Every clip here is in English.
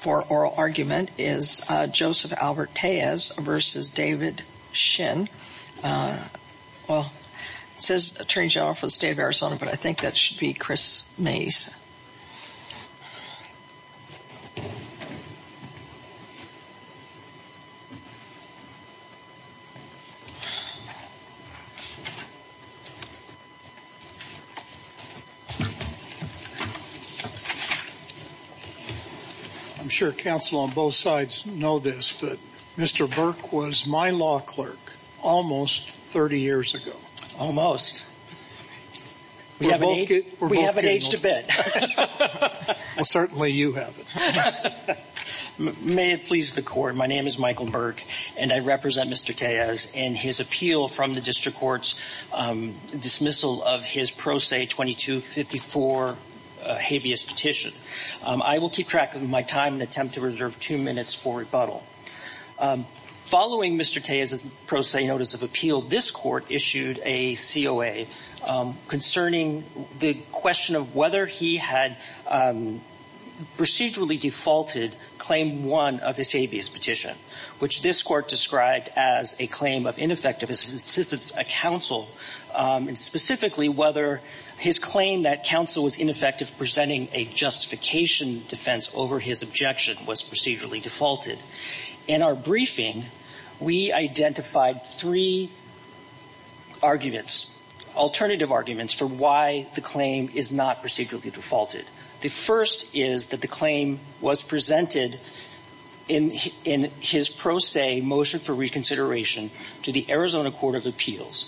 for oral argument is Joseph Albert Tellez v. David Shinn. Well, it says Attorney General for the State of Arizona, but I think that should be Chris Mays. I'm sure counsel on both sides know this, but Mr. Burke was my law clerk almost 30 years ago. Almost? We have an age to bid. Well, certainly you have it. May it please the Court, my name is Michael Burke, and I represent Mr. Tellez in his appeal from the district court's dismissal of his Pro Se 2254 habeas petition. I will keep track of my time and attempt to reserve two minutes for rebuttal. Following Mr. Tellez's Pro Se notice of appeal, this Court issued a COA concerning the question of whether he had procedurally defaulted Claim 1 of his habeas petition, which this Court described as a claim of ineffective assistance to counsel, and specifically whether his claim that counsel was ineffective presenting a justification defense over his objection was procedurally defaulted. In our briefing, we identified three arguments, alternative arguments, for why the claim is not procedurally defaulted. The first is that the claim was presented in his Pro Se motion for reconsideration to the Arizona Court of Appeals,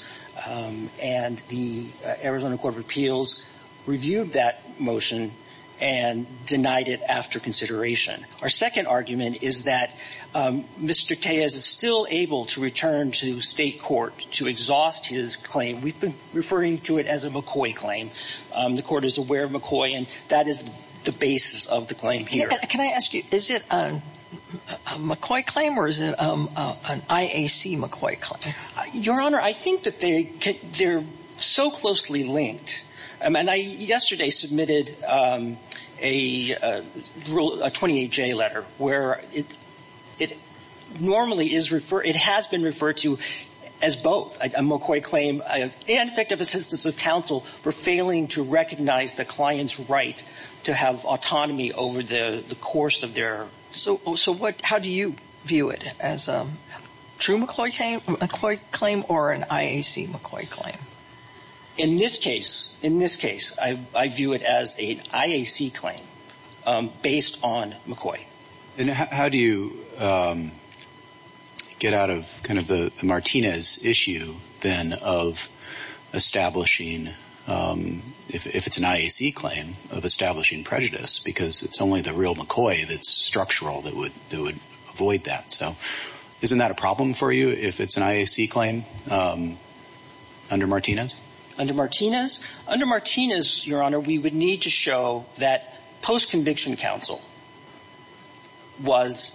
and the Arizona Court of Appeals reviewed that motion and denied it after consideration. Our second argument is that Mr. Tellez is still able to return to state court to exhaust his claim. We've been referring to it as a McCoy claim. The Court is aware of McCoy, and that is the basis of the claim here. Can I ask you, is it a McCoy claim or is it an IAC McCoy claim? Your Honor, I think that they're so closely linked. And I yesterday submitted a rule, a 28J letter, where it normally is referred, it has been referred to as both a McCoy claim and effective assistance of counsel for failing to recognize the client's right to have autonomy over the course of their. So what, how do you view it as a true McCoy claim or an IAC McCoy claim? In this case, in this case, I view it as an IAC claim based on McCoy. And how do you get out of kind of the Martinez issue then of establishing, if it's an IAC claim, of establishing prejudice? Because it's only the real McCoy that's structural that would avoid that. So isn't that a problem for you if it's an IAC claim under Martinez? Under Martinez? Under Martinez, Your Honor, we would need to show that post-conviction counsel was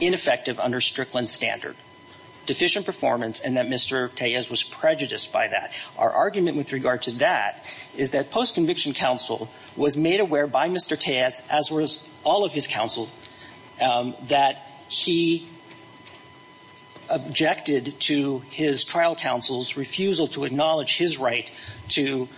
ineffective under Strickland standard, deficient performance, and that Mr. Tejas was prejudiced by that. Our argument with regard to that is that post-conviction counsel was made aware by Mr. Tejas, as was all of his counsel, that he objected to his trial counsel's refusal to acknowledge his right to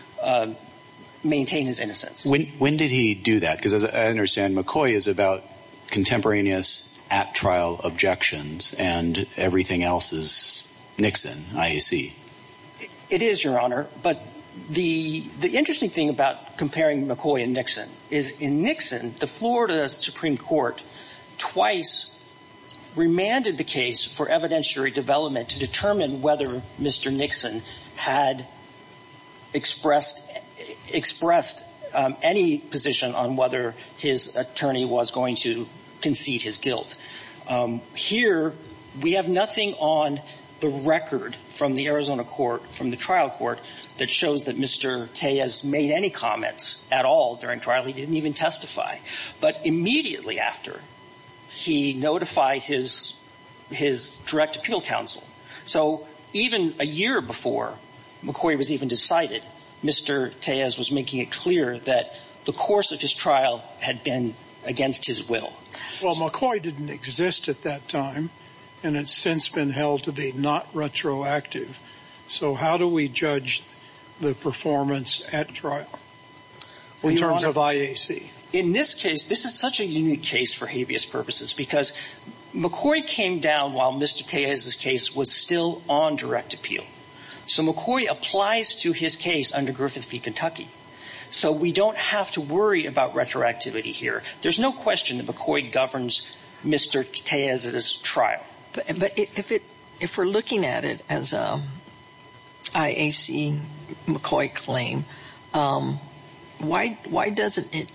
maintain his innocence. When did he do that? Because as I understand, McCoy is about contemporaneous at-trial objections and everything else is Nixon, IAC. It is, Your Honor, but the interesting thing about comparing McCoy and Nixon is in Nixon, the Florida Supreme Court twice remanded the case for evidentiary development to determine whether Mr. Nixon had expressed any position on whether his attorney was going to concede his guilt. Here, we have nothing on the record from the Arizona court, from the trial court, that shows that Mr. Tejas made any comments at all during trial. He didn't even testify. But immediately after, he notified his direct appeal counsel. So even a year before McCoy was even decided, Mr. Tejas was making it clear that the course of his trial had been against his will. Well, McCoy didn't exist at that time, and it's since been held to be not retroactive. So how do we judge the performance at trial in terms of IAC? In this case, this is such a unique case for habeas purposes because McCoy came down while Mr. Tejas' case was still on direct appeal. So McCoy applies to his case under Griffith v. Kentucky. So we don't have to worry about retroactivity here. There's no question that McCoy governs Mr. Tejas' trial. But if we're looking at it as an IAC-McCoy claim, why doesn't it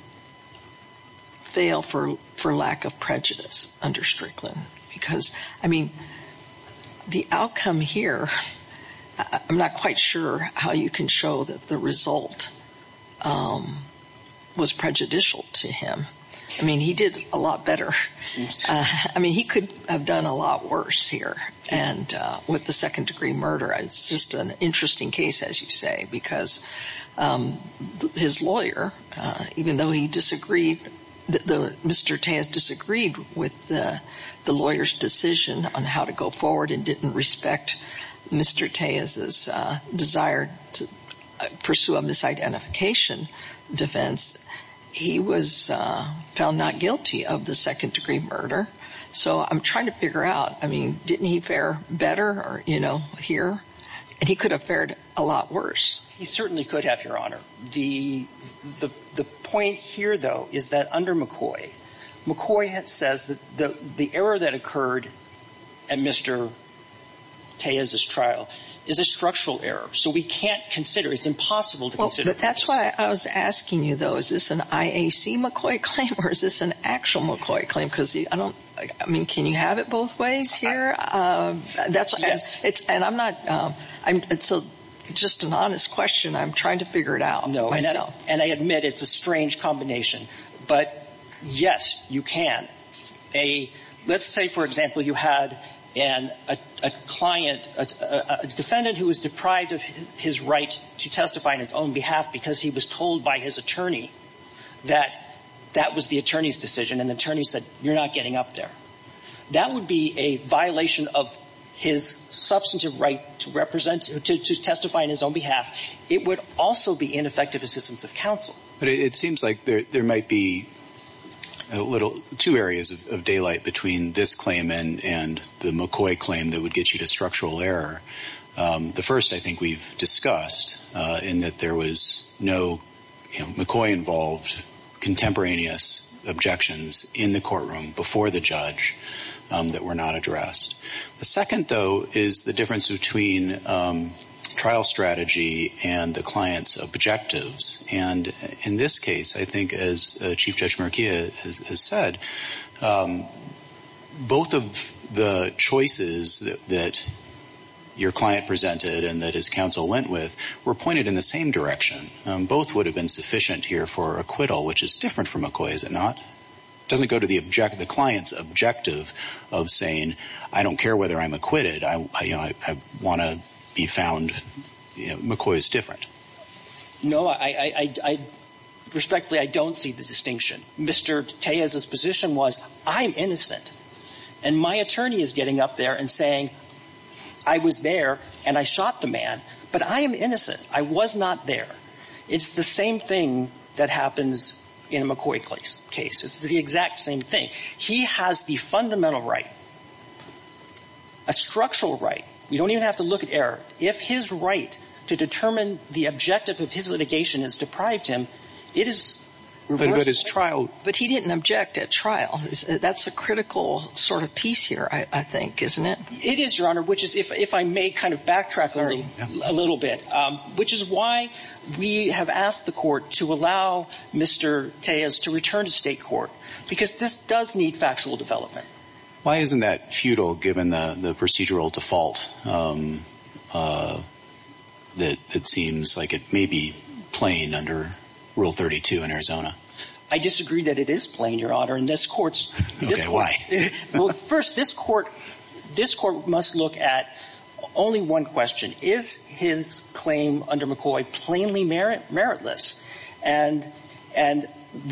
fail for lack of prejudice under Strickland? Because, I mean, the outcome here, I'm not quite sure how you can show that the result was prejudicial to him. I mean, he did a lot better. I mean, he could have done a lot worse here with the second-degree murder. It's just an interesting case, as you say, because his lawyer, even though he disagreed, Mr. Tejas disagreed with the lawyer's decision on how to go forward and didn't respect Mr. Tejas' desire to pursue a misidentification defense, he was found not guilty of the second-degree murder. So I'm trying to figure out, I mean, didn't he fare better or, you know, here? And he could have fared a lot worse. He certainly could have, Your Honor. The point here, though, is that under McCoy, McCoy says that the error that occurred at Mr. Tejas' trial is a structural error. So we can't consider, it's impossible to consider. But that's why I was asking you, though, is this an IAC McCoy claim or is this an actual McCoy claim? Because I don't, I mean, can you have it both ways here? And I'm not, it's just an honest question. I'm trying to figure it out myself. No, and I admit it's a strange combination. But, yes, you can. Let's say, for example, you had a client, a defendant who was deprived of his right to testify on his own behalf because he was told by his attorney that that was the attorney's decision, and the attorney said, you're not getting up there. That would be a violation of his substantive right to represent, to testify on his own behalf. It would also be ineffective assistance of counsel. But it seems like there might be two areas of daylight between this claim and the McCoy claim that would get you to structural error. The first I think we've discussed in that there was no McCoy-involved contemporaneous objections in the courtroom before the judge that were not addressed. The second, though, is the difference between trial strategy and the client's objectives. And in this case, I think as Chief Judge Murkia has said, both of the choices that your client presented and that his counsel went with were pointed in the same direction. Both would have been sufficient here for acquittal, which is different for McCoy, is it not? It doesn't go to the client's objective of saying, I don't care whether I'm acquitted. I want to be found. McCoy is different. No, I respectfully, I don't see the distinction. Mr. Tejas's position was, I'm innocent. And my attorney is getting up there and saying, I was there and I shot the man. But I am innocent. I was not there. It's the same thing that happens in a McCoy case. It's the exact same thing. He has the fundamental right, a structural right. You don't even have to look at error. If his right to determine the objective of his litigation has deprived him, it is. But his trial. But he didn't object at trial. That's a critical sort of piece here, I think, isn't it? It is, Your Honor, which is if I may kind of backtrack a little bit, which is why we have asked the court to allow Mr. Tejas to return to state court, because this does need factual development. Why isn't that futile given the procedural default that it seems like it may be plain under Rule 32 in Arizona? I disagree that it is plain, Your Honor. And this court's. Why? First, this court must look at only one question. Is his claim under McCoy plainly meritless? And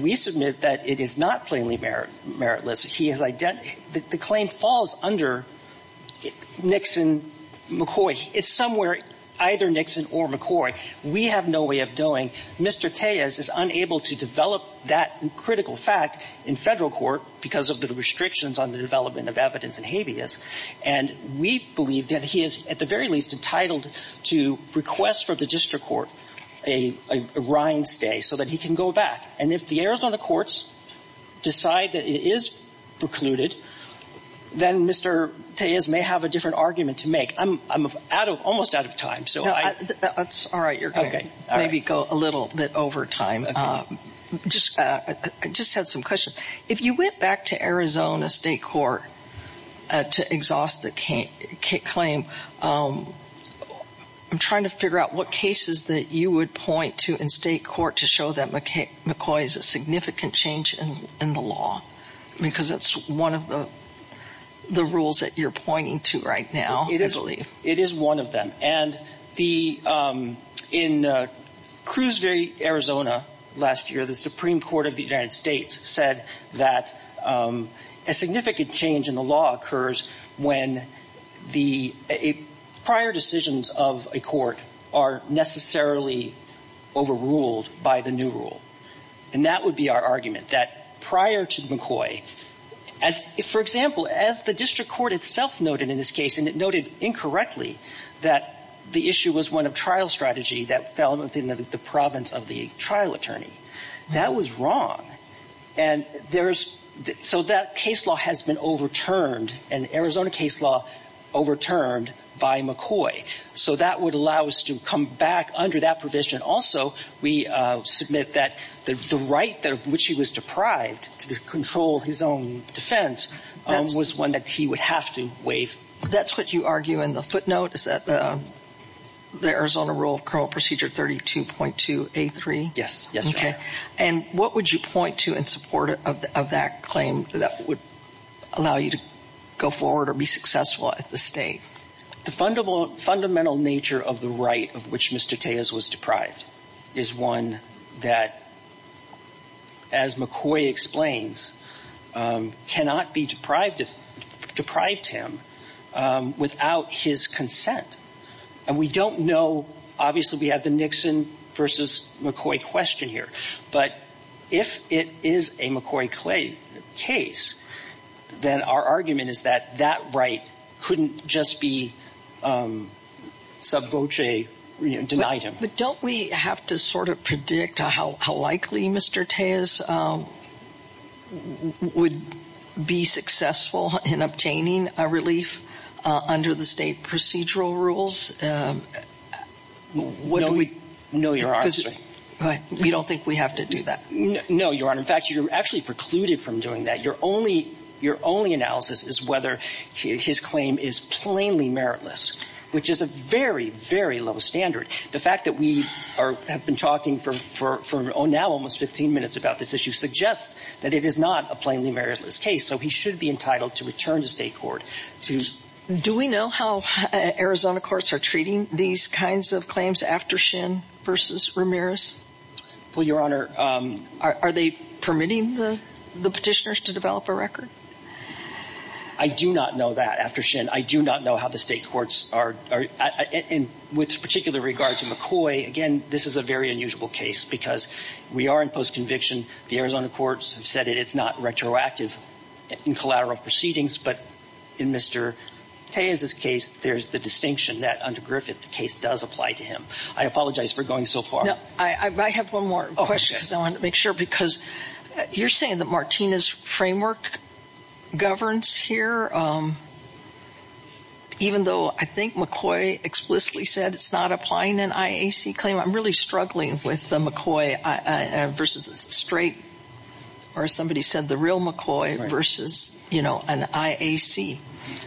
we submit that it is not plainly meritless. He has identified. The claim falls under Nixon-McCoy. It's somewhere either Nixon or McCoy. We have no way of knowing. Mr. Tejas is unable to develop that critical fact in Federal court because of the restrictions on the development of evidence and habeas. And we believe that he is at the very least entitled to request from the district court a rind stay so that he can go back. And if the Arizona courts decide that it is precluded, then Mr. Tejas may have a different argument to make. I'm out of almost out of time. So that's all right. You're OK. Maybe go a little bit over time. Just I just had some questions. If you went back to Arizona state court to exhaust the claim, I'm trying to figure out what cases that you would point to in state court to show that McCoy is a significant change in the law, because that's one of the rules that you're pointing to right now. It is. It is one of them. And the in Crewsbury, Arizona, last year, the Supreme Court of the United States said that a significant change in the law occurs when the prior decisions of a court are necessarily overruled by the new rule. And that would be our argument that prior to McCoy, as for example, as the district court itself noted in this case, and it noted incorrectly that the issue was one of trial strategy that fell within the province of the trial attorney. That was wrong. And there's so that case law has been overturned and Arizona case law overturned by McCoy. So that would allow us to come back under that provision. Also, we submit that the right that of which he was deprived to control his own defense was one that he would have to waive. That's what you argue in the footnote. Is that the Arizona rule of criminal procedure? Thirty two point two. A three. Yes. Yes. OK. And what would you point to in support of that claim that would allow you to go forward or be successful at the state? The fundamental fundamental nature of the right of which Mr. Taylor's was deprived is one that. As McCoy explains, cannot be deprived of deprived him without his consent. And we don't know. Obviously, we have the Nixon versus McCoy question here. But if it is a McCoy Clay case, then our argument is that that right couldn't just be subvote denied him. But don't we have to sort of predict how likely Mr. Taylor's would be successful in obtaining a relief under the state procedural rules? What do we know? You're right. We don't think we have to do that. No, you're on. In fact, you actually precluded from doing that. Your only analysis is whether his claim is plainly meritless, which is a very, very low standard. The fact that we are have been talking for now almost 15 minutes about this issue suggests that it is not a plainly meritless case. So he should be entitled to return to state court. Do we know how Arizona courts are treating these kinds of claims after Shin versus Ramirez? Well, Your Honor, are they permitting the petitioners to develop a record? I do not know that after Shin. I do not know how the state courts are. And with particular regard to McCoy, again, this is a very unusual case because we are in postconviction. The Arizona courts have said it's not retroactive in collateral proceedings. But in Mr. Taylor's case, there's the distinction that under Griffith the case does apply to him. I apologize for going so far. I have one more question because I want to make sure. Because you're saying that Martina's framework governs here, even though I think McCoy explicitly said it's not applying an IAC claim. I'm really struggling with the McCoy versus straight or somebody said the real McCoy versus, you know, an IAC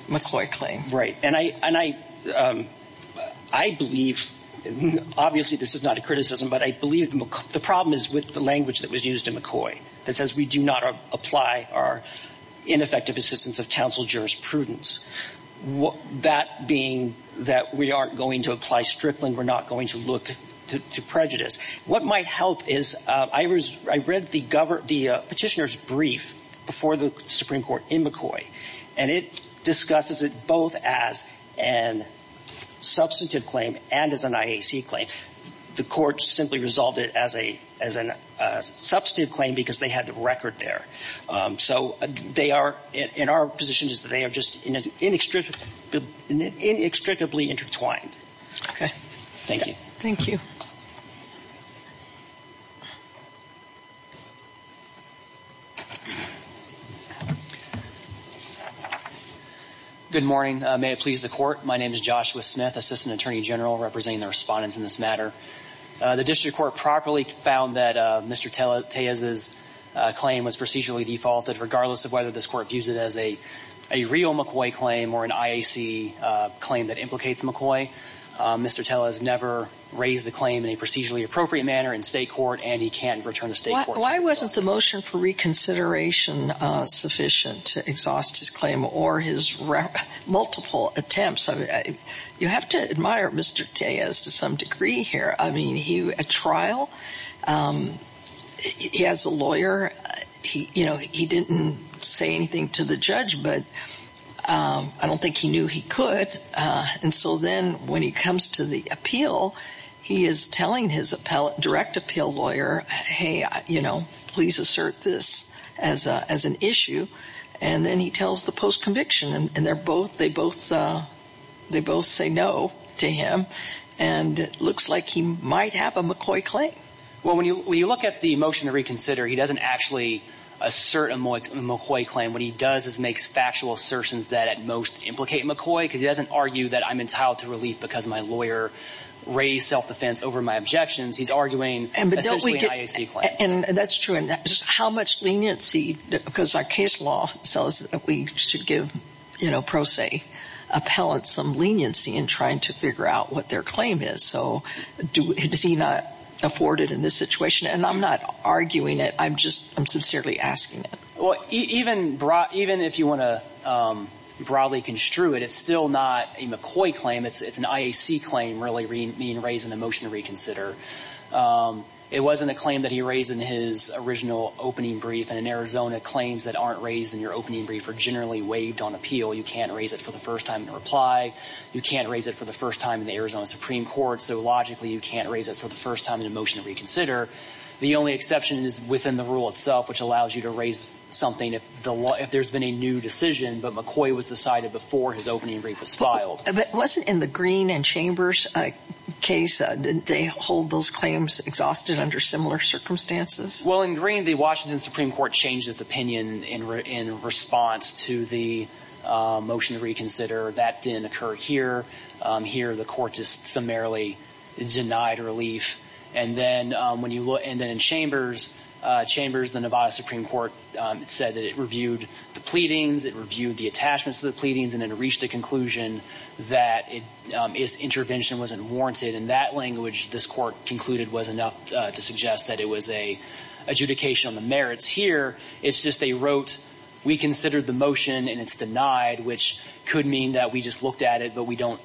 McCoy claim. Right. And I and I I believe obviously this is not a criticism, but I believe the problem is with the language that was used in McCoy. That says we do not apply our ineffective assistance of counsel jurisprudence. That being that we aren't going to apply Strickland, we're not going to look to prejudice. What might help is I read the petitioner's brief before the Supreme Court in McCoy and it discusses it both as an substantive claim and as an IAC claim. The court simply resolved it as a as a substantive claim because they had the record there. So they are in our position is that they are just inextricably intertwined. OK, thank you. Thank you. Good morning. May it please the court. My name is Joshua Smith, assistant attorney general, representing the respondents in this matter. The district court properly found that Mr. Taylor's claim was procedurally defaulted, regardless of whether this court views it as a real McCoy claim or an IAC claim that implicates McCoy. Mr. Taylor has never raised the claim in a procedurally appropriate manner in state court, and he can't return to state court. Why wasn't the motion for reconsideration sufficient to exhaust his claim or his multiple attempts? You have to admire Mr. Tay as to some degree here. I mean, he a trial. He has a lawyer. He you know, he didn't say anything to the judge, but I don't think he knew he could. And so then when he comes to the appeal, he is telling his appellate direct appeal lawyer, hey, you know, please assert this as as an issue. And then he tells the post conviction and they're both they both they both say no to him. And it looks like he might have a McCoy claim. Well, when you look at the motion to reconsider, he doesn't actually assert a McCoy claim. And what he does is makes factual assertions that at most implicate McCoy because he doesn't argue that I'm entitled to relief because my lawyer raised self-defense over my objections. He's arguing. And that's true. And just how much leniency because our case law says that we should give, you know, pro se appellate some leniency in trying to figure out what their claim is. So does he not afford it in this situation? And I'm not arguing it. I'm just I'm sincerely asking. Well, even brought even if you want to broadly construe it, it's still not a McCoy claim. It's an IAC claim really being raised in a motion to reconsider. It wasn't a claim that he raised in his original opening brief. And in Arizona, claims that aren't raised in your opening brief are generally waived on appeal. You can't raise it for the first time in reply. You can't raise it for the first time in the Arizona Supreme Court. So logically, you can't raise it for the first time in a motion to reconsider. The only exception is within the rule itself, which allows you to raise something if the law, if there's been a new decision. But McCoy was decided before his opening brief was filed. It wasn't in the Green and Chambers case. Did they hold those claims exhausted under similar circumstances? Well, in green, the Washington Supreme Court changed its opinion in response to the motion to reconsider. That didn't occur here. Here, the court just summarily denied relief. And then in Chambers, the Nevada Supreme Court said that it reviewed the pleadings, it reviewed the attachments to the pleadings, and it reached the conclusion that its intervention wasn't warranted. In that language, this court concluded was enough to suggest that it was an adjudication on the merits. Here, it's just they wrote, we considered the motion and it's denied, which could mean that we just looked at it, but we don't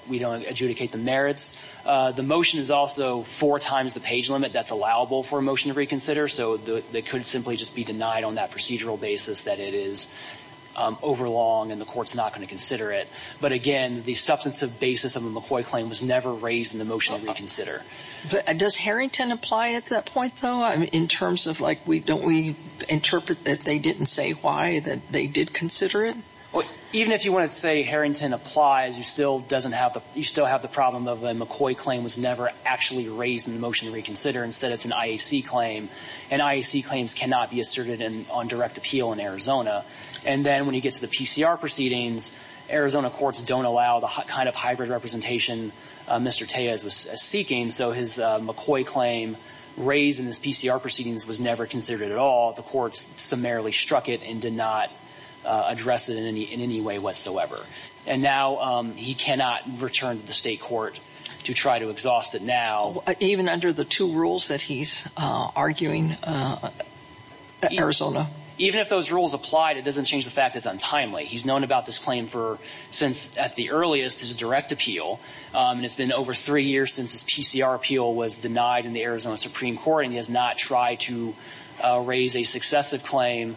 adjudicate the merits. The motion is also four times the page limit that's allowable for a motion to reconsider. So they could simply just be denied on that procedural basis that it is overlong and the court's not going to consider it. But again, the substantive basis of the McCoy claim was never raised in the motion to reconsider. But does Harrington apply at that point, though, in terms of like, don't we interpret that they didn't say why, that they did consider it? Well, even if you wanted to say Harrington applies, you still have the problem of the McCoy claim was never actually raised in the motion to reconsider. Instead, it's an IAC claim, and IAC claims cannot be asserted on direct appeal in Arizona. And then when you get to the PCR proceedings, Arizona courts don't allow the kind of hybrid representation Mr. Tejas was seeking. So his McCoy claim raised in his PCR proceedings was never considered at all. The courts summarily struck it and did not address it in any way whatsoever. And now he cannot return to the state court to try to exhaust it now. Even under the two rules that he's arguing in Arizona? Even if those rules applied, it doesn't change the fact it's untimely. He's known about this claim for since at the earliest his direct appeal, and it's been over three years since his PCR appeal was denied in the Arizona Supreme Court, and he has not tried to raise a successive claim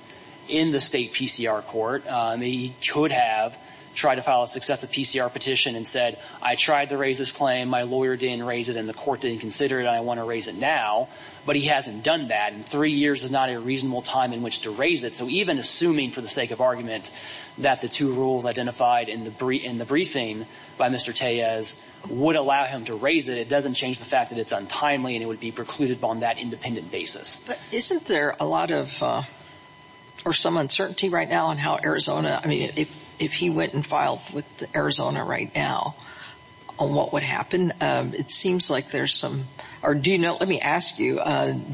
in the state PCR court. He could have tried to file a successive PCR petition and said, I tried to raise this claim. My lawyer didn't raise it, and the court didn't consider it, and I want to raise it now. But he hasn't done that, and three years is not a reasonable time in which to raise it. So even assuming for the sake of argument that the two rules identified in the briefing by Mr. Tejas would allow him to raise it, it doesn't change the fact that it's untimely and it would be precluded on that independent basis. But isn't there a lot of or some uncertainty right now on how Arizona, I mean, if he went and filed with Arizona right now, what would happen? It seems like there's some, or do you know, let me ask you,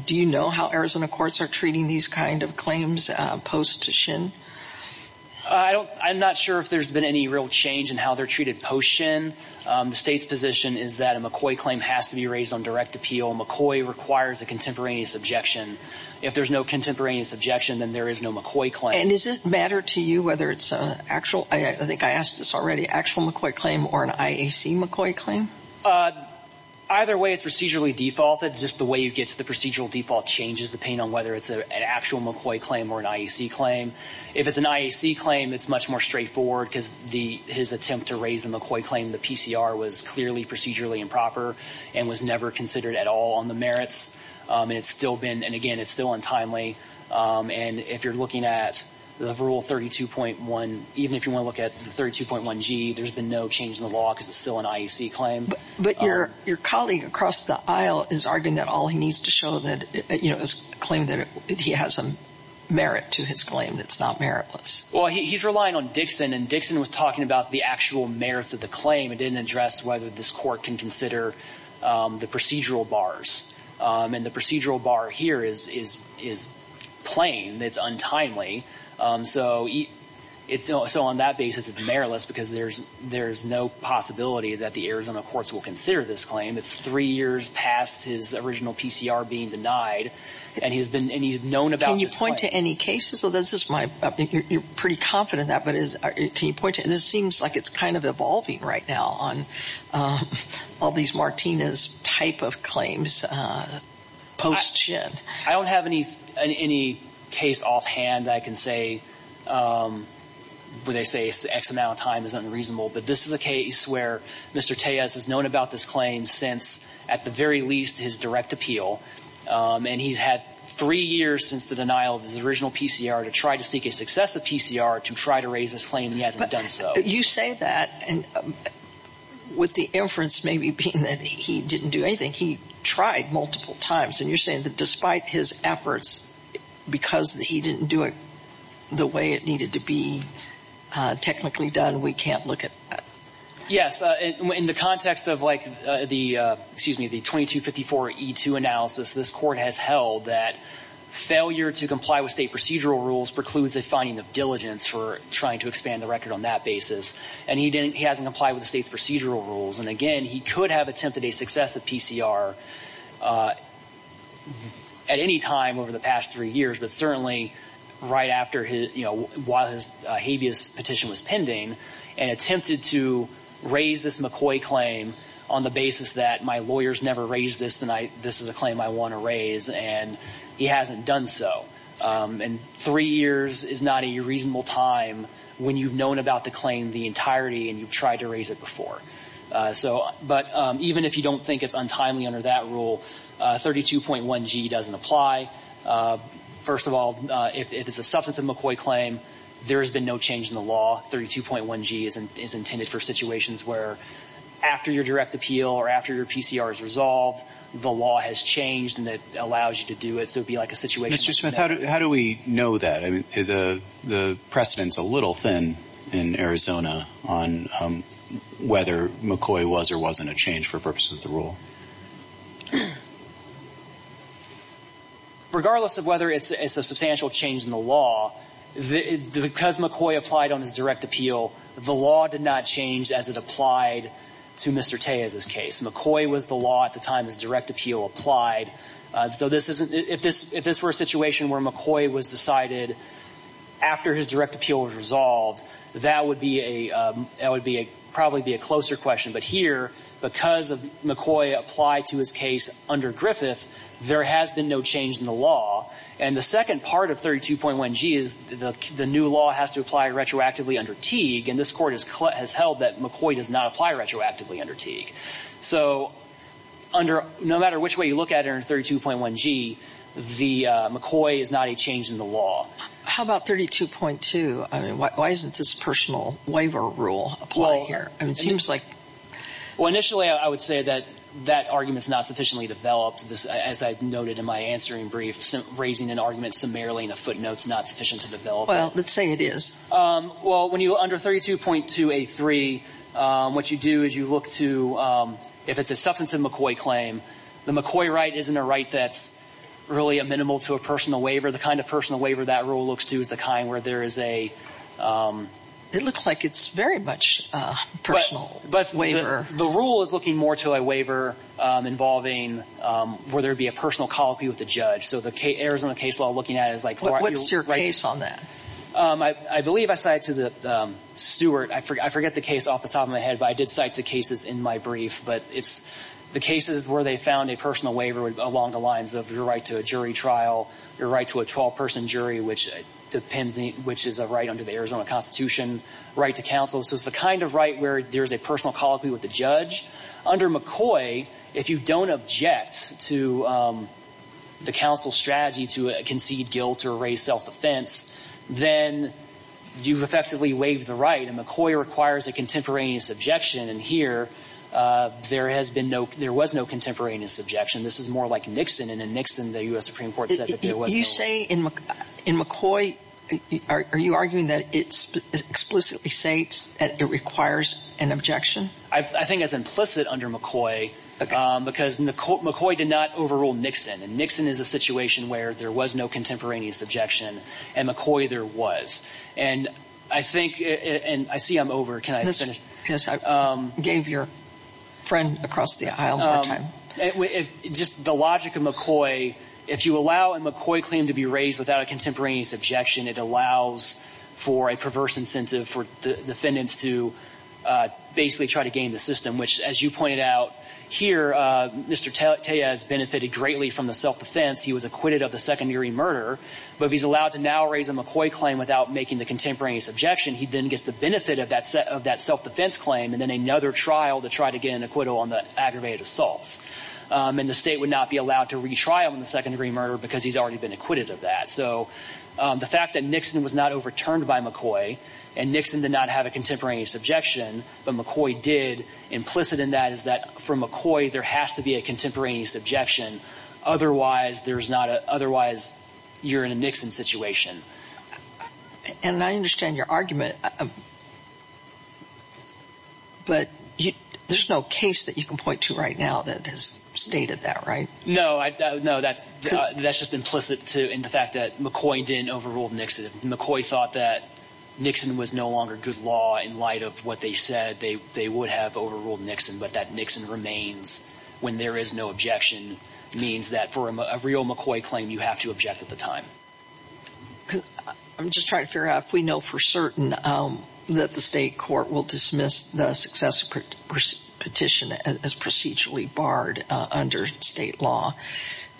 do you know how Arizona courts are treating these kind of claims post-Shinn? I'm not sure if there's been any real change in how they're treated post-Shinn. The state's position is that a McCoy claim has to be raised on direct appeal. McCoy requires a contemporaneous objection. If there's no contemporaneous objection, then there is no McCoy claim. And does it matter to you whether it's an actual, I think I asked this already, actual McCoy claim or an IAC McCoy claim? Either way, it's procedurally defaulted. It's just the way you get to the procedural default changes depending on whether it's an actual McCoy claim or an IAC claim. If it's an IAC claim, it's much more straightforward because his attempt to raise the McCoy claim, the PCR was clearly procedurally improper and was never considered at all on the merits. And it's still been, and again, it's still untimely. And if you're looking at the rule 32.1, even if you want to look at the 32.1G, there's been no change in the law because it's still an IAC claim. But your colleague across the aisle is arguing that all he needs to show that, you know, is a claim that he has a merit to his claim that's not meritless. Well, he's relying on Dixon. And Dixon was talking about the actual merits of the claim. It didn't address whether this court can consider the procedural bars. And the procedural bar here is plain. It's untimely. So on that basis, it's meritless because there's no possibility that the Arizona courts will consider this claim. It's three years past his original PCR being denied. And he's known about this claim. Can you point to any cases? You're pretty confident in that. But can you point to any? This seems like it's kind of evolving right now on all these Martinez type of claims. I don't have any case offhand. I can say where they say X amount of time is unreasonable. But this is a case where Mr. Tejas has known about this claim since, at the very least, his direct appeal. And he's had three years since the denial of his original PCR to try to seek a successive PCR to try to raise this claim. He hasn't done so. You say that with the inference maybe being that he didn't do anything. He tried multiple times. And you're saying that despite his efforts, because he didn't do it the way it needed to be technically done, we can't look at that? Yes. In the context of, like, the 2254E2 analysis, this court has held that failure to comply with state procedural rules precludes a finding of diligence for trying to expand the record on that basis. And he hasn't complied with the state's procedural rules. And, again, he could have attempted a successive PCR at any time over the past three years, but certainly right after his habeas petition was pending and attempted to raise this McCoy claim on the basis that my lawyers never raised this and this is a claim I want to raise. And he hasn't done so. And three years is not a reasonable time when you've known about the claim the entirety and you've tried to raise it before. But even if you don't think it's untimely under that rule, 32.1G doesn't apply. First of all, if it's a substantive McCoy claim, there has been no change in the law. 32.1G is intended for situations where after your direct appeal or after your PCR is resolved, the law has changed and it allows you to do it. So it would be like a situation. Mr. Smith, how do we know that? I mean, the precedent's a little thin in Arizona on whether McCoy was or wasn't a change for purposes of the rule. Regardless of whether it's a substantial change in the law, because McCoy applied on his direct appeal, the law did not change as it applied to Mr. Tejas's case. McCoy was the law at the time his direct appeal applied. So if this were a situation where McCoy was decided after his direct appeal was resolved, that would probably be a closer question. But here, because McCoy applied to his case under Griffith, there has been no change in the law. And the second part of 32.1G is the new law has to apply retroactively under Teague. And this Court has held that McCoy does not apply retroactively under Teague. So no matter which way you look at it under 32.1G, McCoy is not a change in the law. How about 32.2? I mean, why doesn't this personal waiver rule apply here? Well, initially I would say that that argument's not sufficiently developed, as I noted in my answering brief. Raising an argument summarily in a footnote's not sufficient to develop it. Well, let's say it is. Well, when you go under 32.2A3, what you do is you look to, if it's a substantive McCoy claim, the McCoy right isn't a right that's really a minimal to a personal waiver. The kind of personal waiver that rule looks to is the kind where there is a ‑‑ It looks like it's very much a personal waiver. But the rule is looking more to a waiver involving where there would be a personal colloquy with the judge. So the Arizona case law looking at it is like ‑‑ What's your case on that? I believe I cited to Stewart. I forget the case off the top of my head, but I did cite the cases in my brief. But it's the cases where they found a personal waiver along the lines of your right to a jury trial, your right to a 12‑person jury, which is a right under the Arizona Constitution, right to counsel. So it's the kind of right where there's a personal colloquy with the judge. Under McCoy, if you don't object to the counsel's strategy to concede guilt or raise self‑defense, then you've effectively waived the right. And McCoy requires a contemporaneous objection. And here there has been no ‑‑ there was no contemporaneous objection. This is more like Nixon. And in Nixon, the U.S. Supreme Court said that there was no ‑‑ You say in McCoy, are you arguing that it explicitly states that it requires an objection? I think it's implicit under McCoy because McCoy did not overrule Nixon. And Nixon is a situation where there was no contemporaneous objection, and McCoy there was. And I think ‑‑ and I see I'm over. Can I finish? Yes, I gave your friend across the aisle more time. Just the logic of McCoy, if you allow a McCoy claim to be raised without a contemporaneous objection, it allows for a perverse incentive for defendants to basically try to gain the system, which, as you pointed out here, Mr. Tellez benefited greatly from the self‑defense. He was acquitted of the second-degree murder. But if he's allowed to now raise a McCoy claim without making the contemporaneous objection, he then gets the benefit of that self‑defense claim and then another trial to try to get an acquittal on the aggravated assaults. And the state would not be allowed to retrial him in the second-degree murder because he's already been acquitted of that. So the fact that Nixon was not overturned by McCoy and Nixon did not have a contemporaneous objection, but McCoy did, implicit in that is that for McCoy there has to be a contemporaneous objection. Otherwise, there's not a ‑‑ otherwise you're in a Nixon situation. And I understand your argument, but there's no case that you can point to right now that has stated that, right? No, that's just implicit in the fact that McCoy didn't overrule Nixon. If McCoy thought that Nixon was no longer good law in light of what they said, they would have overruled Nixon. But that Nixon remains when there is no objection means that for a real McCoy claim, you have to object at the time. I'm just trying to figure out if we know for certain that the state court will dismiss the success petition as procedurally barred under state law.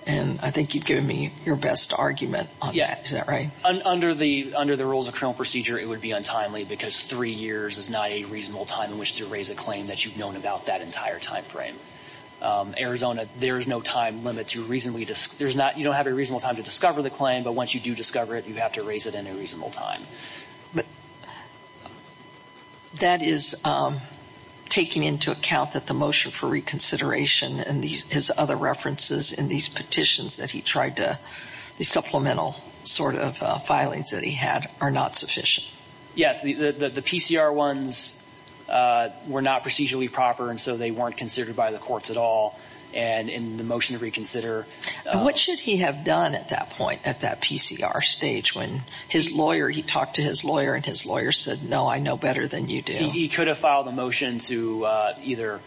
And I think you've given me your best argument on that. Yeah. Is that right? Under the rules of criminal procedure, it would be untimely because three years is not a reasonable time in which to raise a claim that you've known about that entire time frame. But in Arizona, there is no time limit to reasonably ‑‑ you don't have a reasonable time to discover the claim, but once you do discover it, you have to raise it in a reasonable time. But that is taking into account that the motion for reconsideration and his other references in these petitions that he tried to ‑‑ the supplemental sort of filings that he had are not sufficient. Yes. The PCR ones were not procedurally proper, and so they weren't considered by the courts at all. And in the motion to reconsider ‑‑ What should he have done at that point, at that PCR stage, when his lawyer ‑‑ he talked to his lawyer, and his lawyer said, no, I know better than you do. He could have filed a motion to either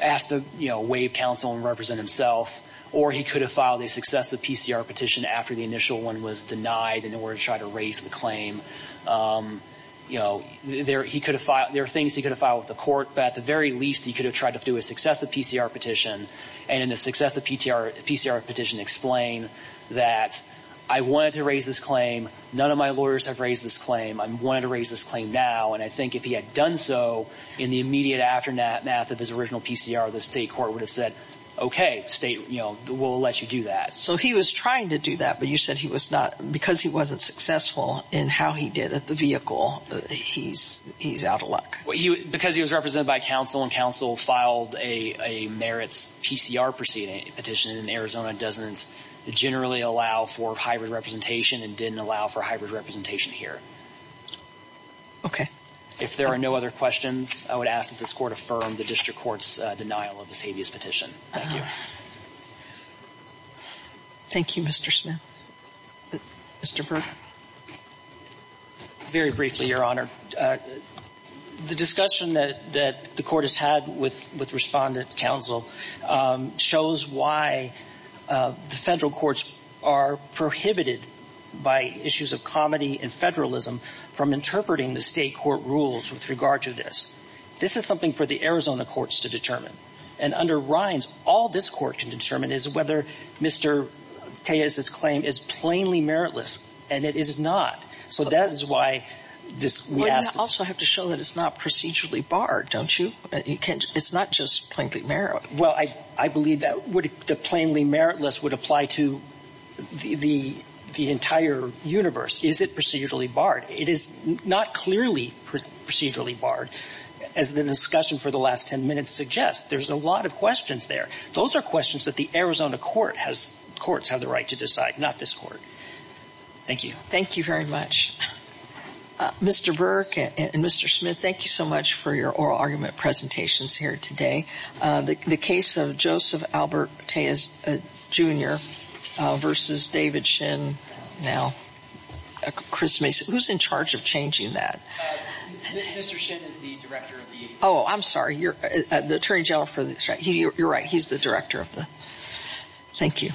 ask the WAVE counsel and represent himself, or he could have filed a successive PCR petition after the initial one was denied in order to try to raise the claim. There are things he could have filed with the court, but at the very least, he could have tried to do a successive PCR petition, and in the successive PCR petition explain that I wanted to raise this claim, none of my lawyers have raised this claim, I wanted to raise this claim now, and I think if he had done so in the immediate aftermath of his original PCR, the state court would have said, okay, state, you know, we'll let you do that. So he was trying to do that, but you said he was not ‑‑ because he wasn't successful in how he did at the vehicle, he's out of luck. Because he was represented by counsel, and counsel filed a merits PCR petition, and Arizona doesn't generally allow for hybrid representation and didn't allow for hybrid representation here. Okay. If there are no other questions, I would ask that this court affirm the district court's denial of this habeas petition. Thank you. Thank you, Mr. Smith. Mr. Berg. Very briefly, Your Honor. The discussion that the court has had with respondent counsel shows why the federal courts are prohibited by issues of comedy and federalism from interpreting the state court rules with regard to this. This is something for the Arizona courts to determine. And under Rhines, all this court can determine is whether Mr. Tejas's claim is plainly meritless, and it is not. So that is why this ‑‑ But you also have to show that it's not procedurally barred, don't you? It's not just plainly meritless. Well, I believe that the plainly meritless would apply to the entire universe. Is it procedurally barred? It is not clearly procedurally barred. As the discussion for the last ten minutes suggests, there's a lot of questions there. Those are questions that the Arizona court has ‑‑ courts have the right to decide, not this court. Thank you. Thank you very much. Mr. Berg and Mr. Smith, thank you so much for your oral argument presentations here today. The case of Joseph Albert Tejas Jr. versus David Shin now. Chris Mason. Who's in charge of changing that? Mr. Shin is the director of the ‑‑ Oh, I'm sorry. The attorney general for the ‑‑ you're right. He's the director of the ‑‑ Thank you.